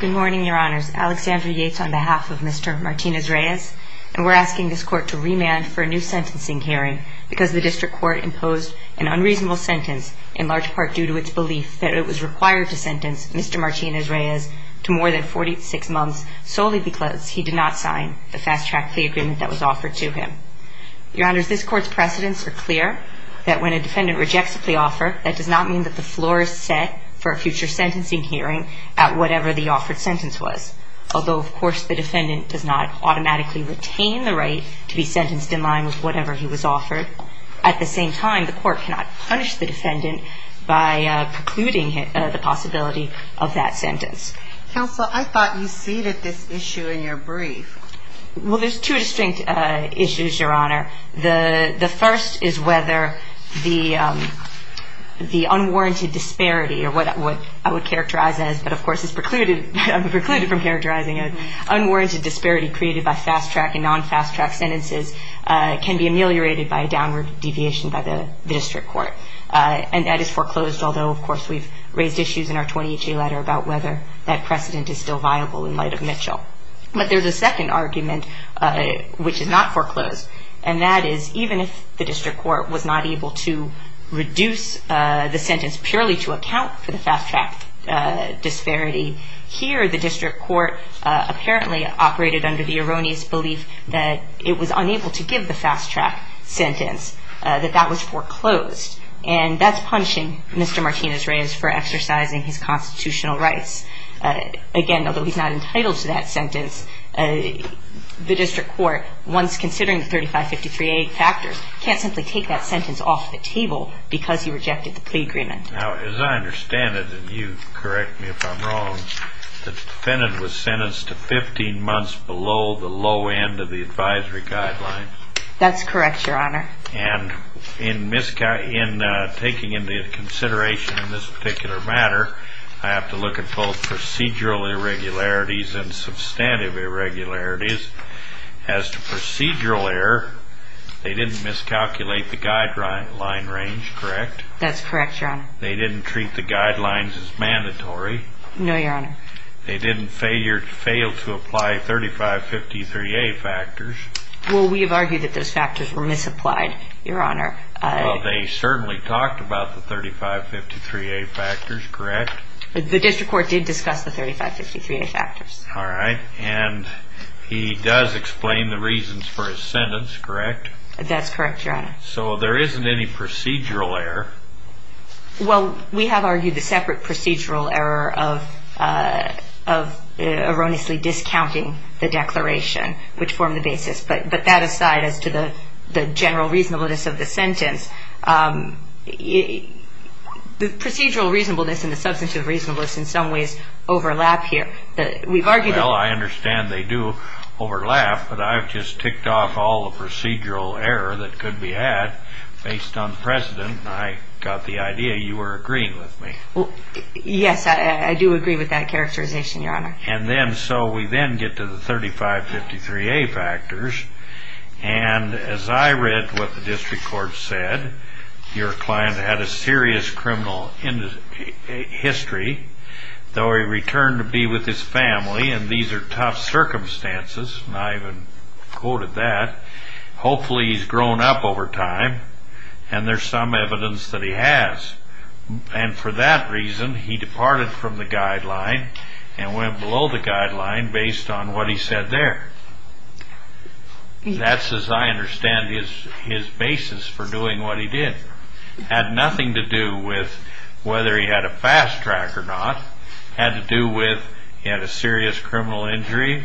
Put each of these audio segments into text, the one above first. Good morning, your honors. Alexandra Yates on behalf of Mr. Martinez-Reyes, and we're asking this court to remand for a new sentencing hearing because the district court imposed an unreasonable sentence in large part due to its belief that it was required to sentence Mr. Martinez-Reyes to more than 46 months solely because he did not sign the fast track fee agreement that was offered to him. Your honors, this court's precedents are clear that when a defendant rejects the offer, that does not mean that the floor is set for a future sentencing hearing at whatever the offered sentence was. Although, of course, the defendant does not automatically retain the right to be sentenced in line with whatever he was offered, at the same time, the court cannot punish the defendant by precluding the possibility of that sentence. Counsel, I thought you ceded this issue in your brief. Well, there's two distinct issues, your honor. The first is whether the unwarranted disparity, or what I would characterize as, but of course is precluded from characterizing it, unwarranted disparity created by fast track and non-fast track sentences can be ameliorated by a downward deviation by the district court. And that is foreclosed, although, of course, we've raised issues in our 2018 letter about whether that precedent is still viable in light of Mitchell. But there's a second argument, which is not foreclosed. And that is, even if the district court was not able to reduce the sentence purely to account for the fast track disparity, here the district court apparently operated under the erroneous belief that it was unable to give the fast track sentence, that that was foreclosed. And that's punishing Mr. Martinez Reyes for exercising his constitutional rights. Again, although he's not entitled to that sentence, the district court, once considering the 3553A factors, can't simply take that sentence off the table because he rejected the plea agreement. Now, as I understand it, and you correct me if I'm wrong, the defendant was sentenced to 15 months below the low end of the advisory guidelines. That's correct, your honor. And in taking into consideration in this particular matter, I have to look at both procedural irregularities and substantive irregularities. As to procedural error, they didn't miscalculate the guideline range, correct? That's correct, your honor. They didn't treat the guidelines as mandatory? No, your honor. They didn't fail to apply 3553A factors? Well, we have argued that those factors were misapplied, your honor. Well, they certainly talked about the 3553A factors, correct? The district court did discuss the 3553A factors. All right. And he does explain the reasons for his sentence, correct? That's correct, your honor. So there isn't any procedural error? Well, we have argued the separate procedural error of erroneously discounting the declaration, which formed the basis. But that aside, as to the general reasonableness of the sentence, the procedural reasonableness and the substantive reasonableness in some ways overlap here. Well, I understand they do overlap, but I've just ticked off all the procedural error that could be had based on precedent, and I got the idea you were agreeing with me. Yes, I do agree with that characterization, your honor. And so we then get to the 3553A factors, and as I read what the district court said, your client had a serious criminal history. Though he returned to be with his family, and these are tough circumstances, and I even quoted that, hopefully he's grown up over time, and there's some evidence that he has. And for that reason, he departed from the guideline and went below the guideline based on what he said there. That's, as I understand, his basis for doing what he did. It had nothing to do with whether he had a fast track or not. It had to do with he had a serious criminal injury,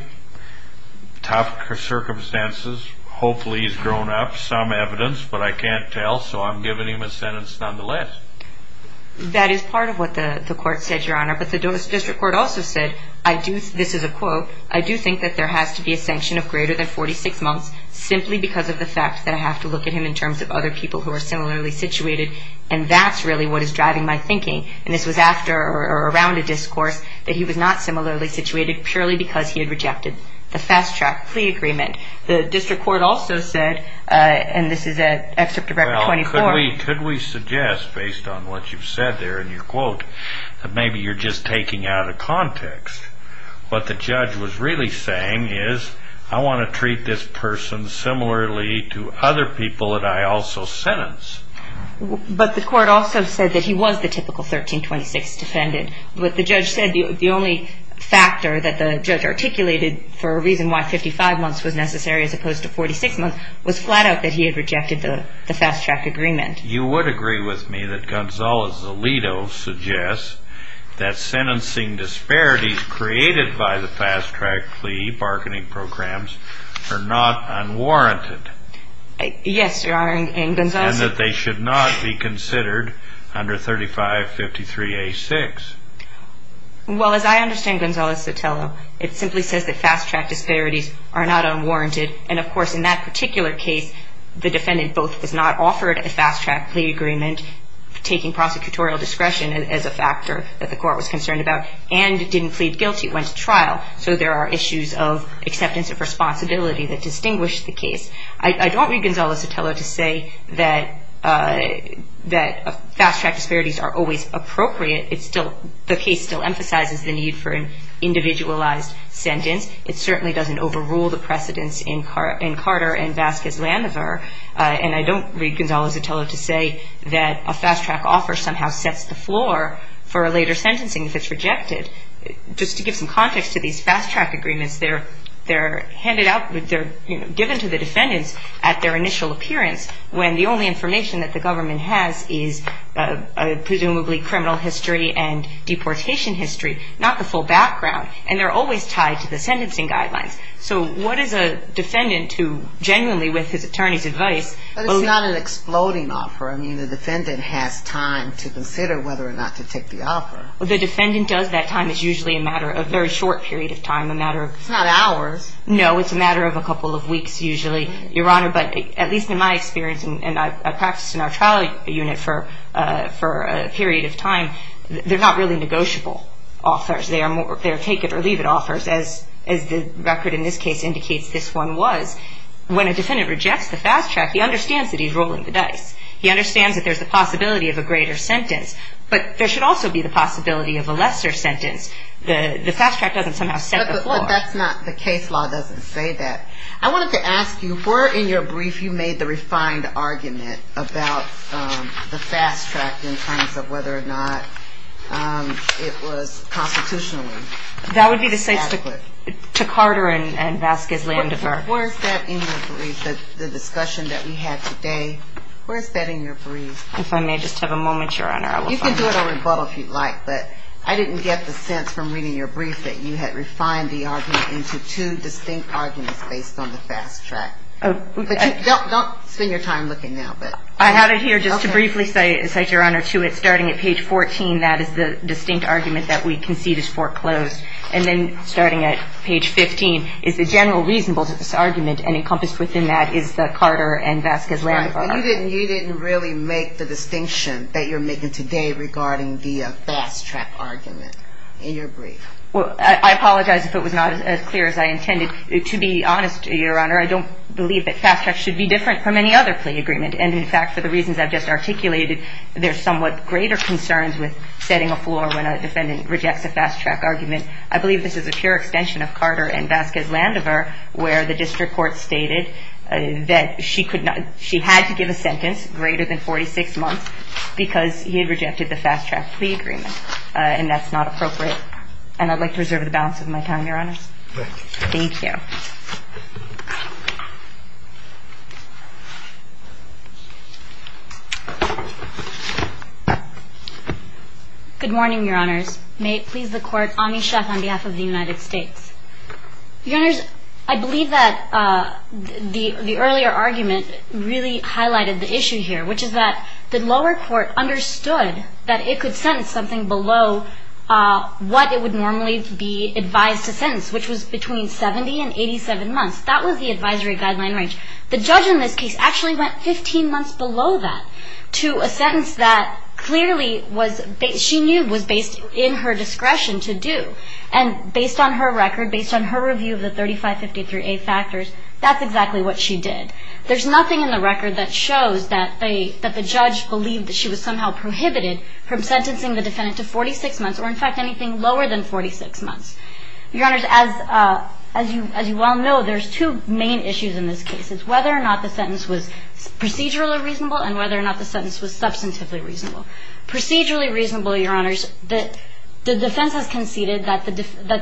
tough circumstances, hopefully he's grown up, some evidence, but I can't tell, so I'm giving him a sentence nonetheless. That is part of what the court said, your honor, but the district court also said, this is a quote, I do think that there has to be a sanction of greater than 46 months simply because of the fact that I have to look at him in terms of other people who are similarly situated, and that's really what is driving my thinking, and this was after or around a discourse that he was not similarly situated purely because he had rejected the fast track plea agreement. The district court also said, and this is at Excerpt of Record 24, Well, could we suggest, based on what you've said there in your quote, that maybe you're just taking out of context. What the judge was really saying is, I want to treat this person similarly to other people that I also sentence. But the court also said that he was the typical 1326 defendant. What the judge said, the only factor that the judge articulated for a reason why 55 months was necessary as opposed to 46 months, was flat out that he had rejected the fast track agreement. You would agree with me that Gonzalo's Alito suggests that sentencing disparities created by the fast track plea bargaining programs are not unwarranted. Yes, your honor, and Gonzalo said that they should not be considered under 3553A6. Well, as I understand Gonzalo Sotelo, it simply says that fast track disparities are not unwarranted, and of course in that particular case, the defendant both was not offered a fast track plea agreement, taking prosecutorial discretion as a factor that the court was concerned about, and didn't plead guilty, went to trial. So there are issues of acceptance of responsibility that distinguish the case. I don't read Gonzalo Sotelo to say that fast track disparities are always appropriate. The case still emphasizes the need for an individualized sentence. It certainly doesn't overrule the precedence in Carter and Vasquez-Lanover, and I don't read Gonzalo Sotelo to say that a fast track offer somehow sets the floor for a later sentencing if it's rejected. Just to give some context to these fast track agreements, they're handed out, they're given to the defendants at their initial appearance, when the only information that the government has is presumably criminal history and deportation history, not the full background, and they're always tied to the sentencing guidelines. So what is a defendant who genuinely with his attorney's advice But it's not an exploding offer. I mean, the defendant has time to consider whether or not to take the offer. The defendant does that time. It's usually a matter of a very short period of time, a matter of It's not hours. No, it's a matter of a couple of weeks usually, Your Honor. But at least in my experience, and I practiced in our trial unit for a period of time, they're not really negotiable offers. They are take-it-or-leave-it offers, as the record in this case indicates this one was. When a defendant rejects the fast track, he understands that he's rolling the dice. He understands that there's the possibility of a greater sentence, but there should also be the possibility of a lesser sentence. The fast track doesn't somehow set the floor. But the case law doesn't say that. I wanted to ask you, were in your brief you made the refined argument about the fast track in terms of whether or not it was constitutionally adequate? That would be to say to Carter and Vasquez-Landifer. Where is that in your brief, the discussion that we had today? Where is that in your brief? If I may just have a moment, Your Honor, I will find it. You can do it on rebuttal if you'd like, but I didn't get the sense from reading your brief that you had refined the argument into two distinct arguments based on the fast track. Don't spend your time looking now. I have it here just to briefly cite, Your Honor, to it. Starting at page 14, that is the distinct argument that we concede is foreclosed. And then starting at page 15 is the general reasonableness of this argument, and encompassed within that is the Carter and Vasquez-Landifer argument. But you didn't really make the distinction that you're making today regarding the fast track argument in your brief. Well, I apologize if it was not as clear as I intended. To be honest, Your Honor, I don't believe that fast track should be different from any other plea agreement. And, in fact, for the reasons I've just articulated, there's somewhat greater concerns with setting a floor when a defendant rejects a fast track argument. I believe this is a pure extension of Carter and Vasquez-Landifer, where the district court stated that she had to give a sentence greater than 46 months because he had rejected the fast track plea agreement. And that's not appropriate. And I'd like to reserve the balance of my time, Your Honors. Thank you. Thank you. Good morning, Your Honors. May it please the Court, Anish Jha on behalf of the United States. Your Honors, I believe that the earlier argument really highlighted the issue here, which is that the lower court understood that it could sentence something below what it would normally be advised to sentence, which was between 70 and 87 months. That was the advisory guideline range. The judge in this case actually went 15 months below that to a sentence that clearly she knew was based in her discretion to do. And based on her record, based on her review of the 3553A factors, that's exactly what she did. There's nothing in the record that shows that the judge believed that she was somehow prohibited from sentencing the defendant to 46 months or, in fact, anything lower than 46 months. Your Honors, as you well know, there's two main issues in this case. It's whether or not the sentence was procedurally reasonable and whether or not the sentence was substantively reasonable. Procedurally reasonable, Your Honors, the defense has conceded that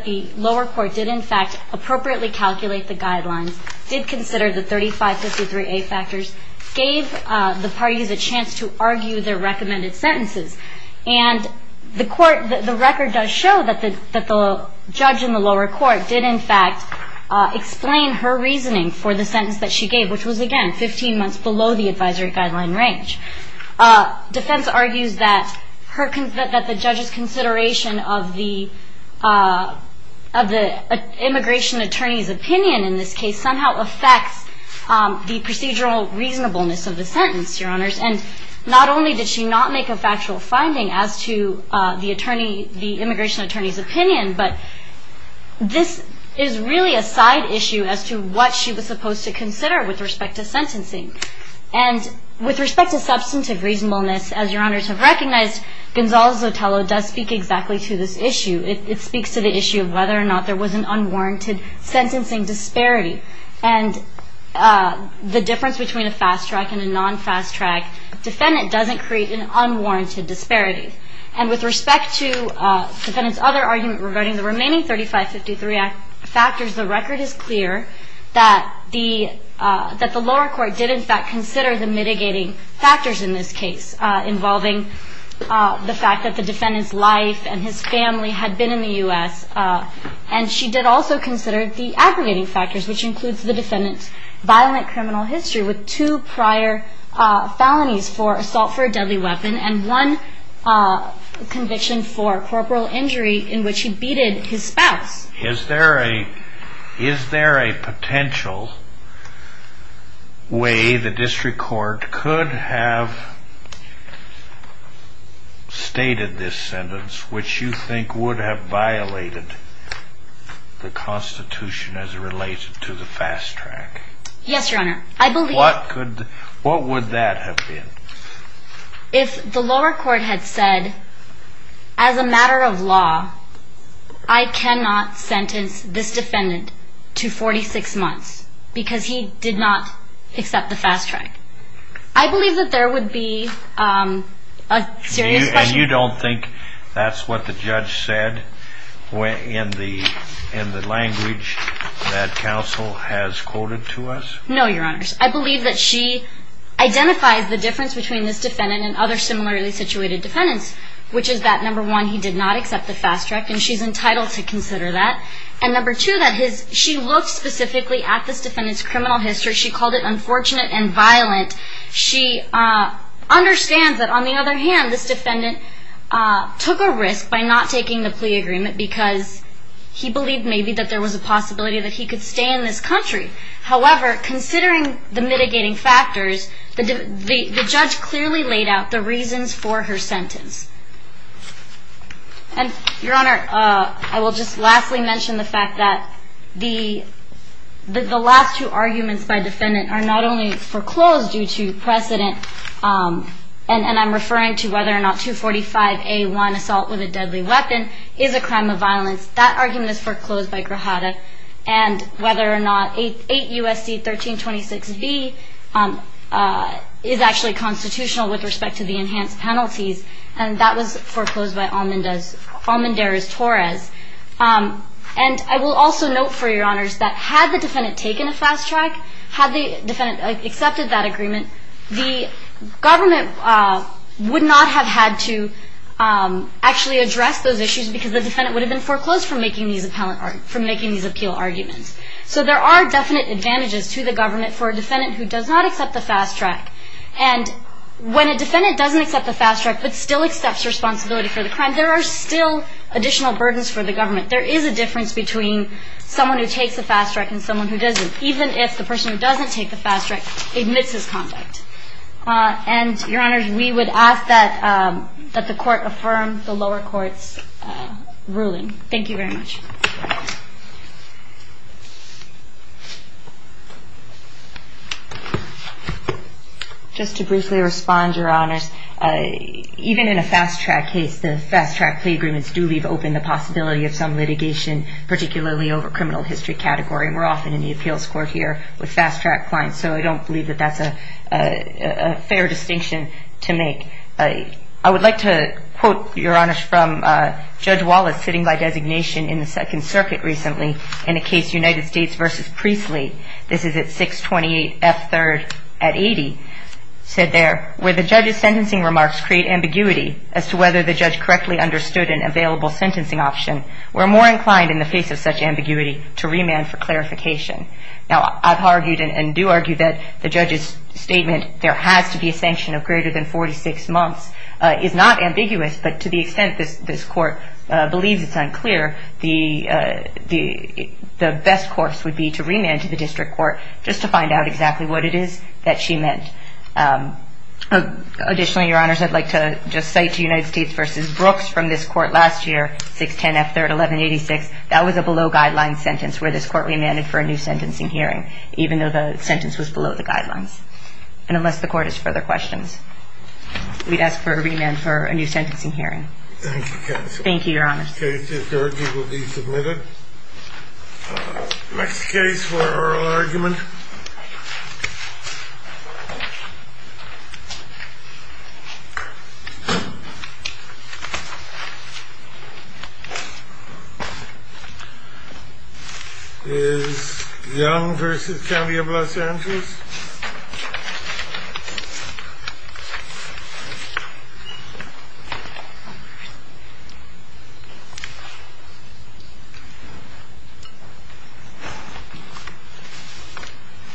the lower court did, in fact, appropriately calculate the guidelines, did consider the 3553A factors, gave the parties a chance to argue their recommended sentences. And the record does show that the judge in the lower court did, in fact, explain her reasoning for the sentence that she gave, which was, again, 15 months below the advisory guideline range. Defense argues that the judge's consideration of the immigration attorney's opinion in this case somehow affects the procedural reasonableness of the sentence, Your Honors. And not only did she not make a factual finding as to the immigration attorney's opinion, but this is really a side issue as to what she was supposed to consider with respect to sentencing. And with respect to substantive reasonableness, as Your Honors have recognized, Gonzalo Zotello does speak exactly to this issue. It speaks to the issue of whether or not there was an unwarranted sentencing disparity. And the difference between a fast track and a non-fast track defendant doesn't create an unwarranted disparity. And with respect to the defendant's other argument regarding the remaining 3553A factors, the record is clear that the lower court did, in fact, consider the mitigating factors in this case, involving the fact that the defendant's life and his family had been in the U.S. And she did also consider the aggregating factors, which includes the defendant's violent criminal history with two prior felonies for assault for a deadly weapon and one conviction for corporal injury in which he beat his spouse. Is there a potential way the district court could have stated this sentence, which you think would have violated the Constitution as it relates to the fast track? Yes, Your Honor. What would that have been? If the lower court had said, as a matter of law, I cannot sentence this defendant to 46 months because he did not accept the fast track, I believe that there would be a serious question. And you don't think that's what the judge said in the language that counsel has quoted to us? No, Your Honors. I believe that she identifies the difference between this defendant and other similarly situated defendants, which is that, number one, he did not accept the fast track, and she's entitled to consider that. And, number two, that she looked specifically at this defendant's criminal history. She called it unfortunate and violent. She understands that, on the other hand, this defendant took a risk by not taking the plea agreement because he believed maybe that there was a possibility that he could stay in this country. However, considering the mitigating factors, the judge clearly laid out the reasons for her sentence. And, Your Honor, I will just lastly mention the fact that the last two arguments by defendant are not only foreclosed due to precedent, and I'm referring to whether or not 245A1, assault with a deadly weapon, is a crime of violence. That argument is foreclosed by Grajada, and whether or not 8 U.S.C. 1326B is actually constitutional with respect to the enhanced penalties, and that was foreclosed by Almendarez-Torres. And I will also note, for Your Honors, that had the defendant taken a fast track, had the defendant accepted that agreement, the government would not have had to actually address those issues because the defendant would have been foreclosed from making these appeal arguments. So there are definite advantages to the government for a defendant who does not accept the fast track. And when a defendant doesn't accept the fast track but still accepts responsibility for the crime, there are still additional burdens for the government. There is a difference between someone who takes the fast track and someone who doesn't, even if the person who doesn't take the fast track admits his conduct. And Your Honors, we would ask that the court affirm the lower court's ruling. Thank you very much. Just to briefly respond, Your Honors, even in a fast track case, the fast track plea agreements do leave open the possibility of some litigation, particularly over criminal history category. And we're often in the appeals court here with fast track clients, so I don't believe that that's a fair distinction to make. I would like to quote, Your Honors, from Judge Wallace sitting by designation in the Second Circuit recently in a case United States v. Priestley. This is at 628 F. 3rd at 80. It said there, where the judge's sentencing remarks create ambiguity as to whether the judge correctly understood an available sentencing option, we're more inclined in the face of such ambiguity to remand for clarification. Now, I've argued and do argue that the judge's statement, there has to be a sanction of greater than 46 months is not ambiguous, but to the extent this court believes it's unclear, the best course would be to remand to the district court just to find out exactly what it is that she meant. Additionally, Your Honors, I'd like to just say to United States v. Brooks from this court last year, 610 F. 3rd, 1186, that was a below-guideline sentence where this court remanded for a new sentencing hearing, even though the sentence was below the guidelines. And unless the court has further questions, we'd ask for a remand for a new sentencing hearing. Thank you, Counselor. Thank you, Your Honors. In this case, this argument will be submitted. Next case for oral argument is Young v. County of Los Angeles. Thank you.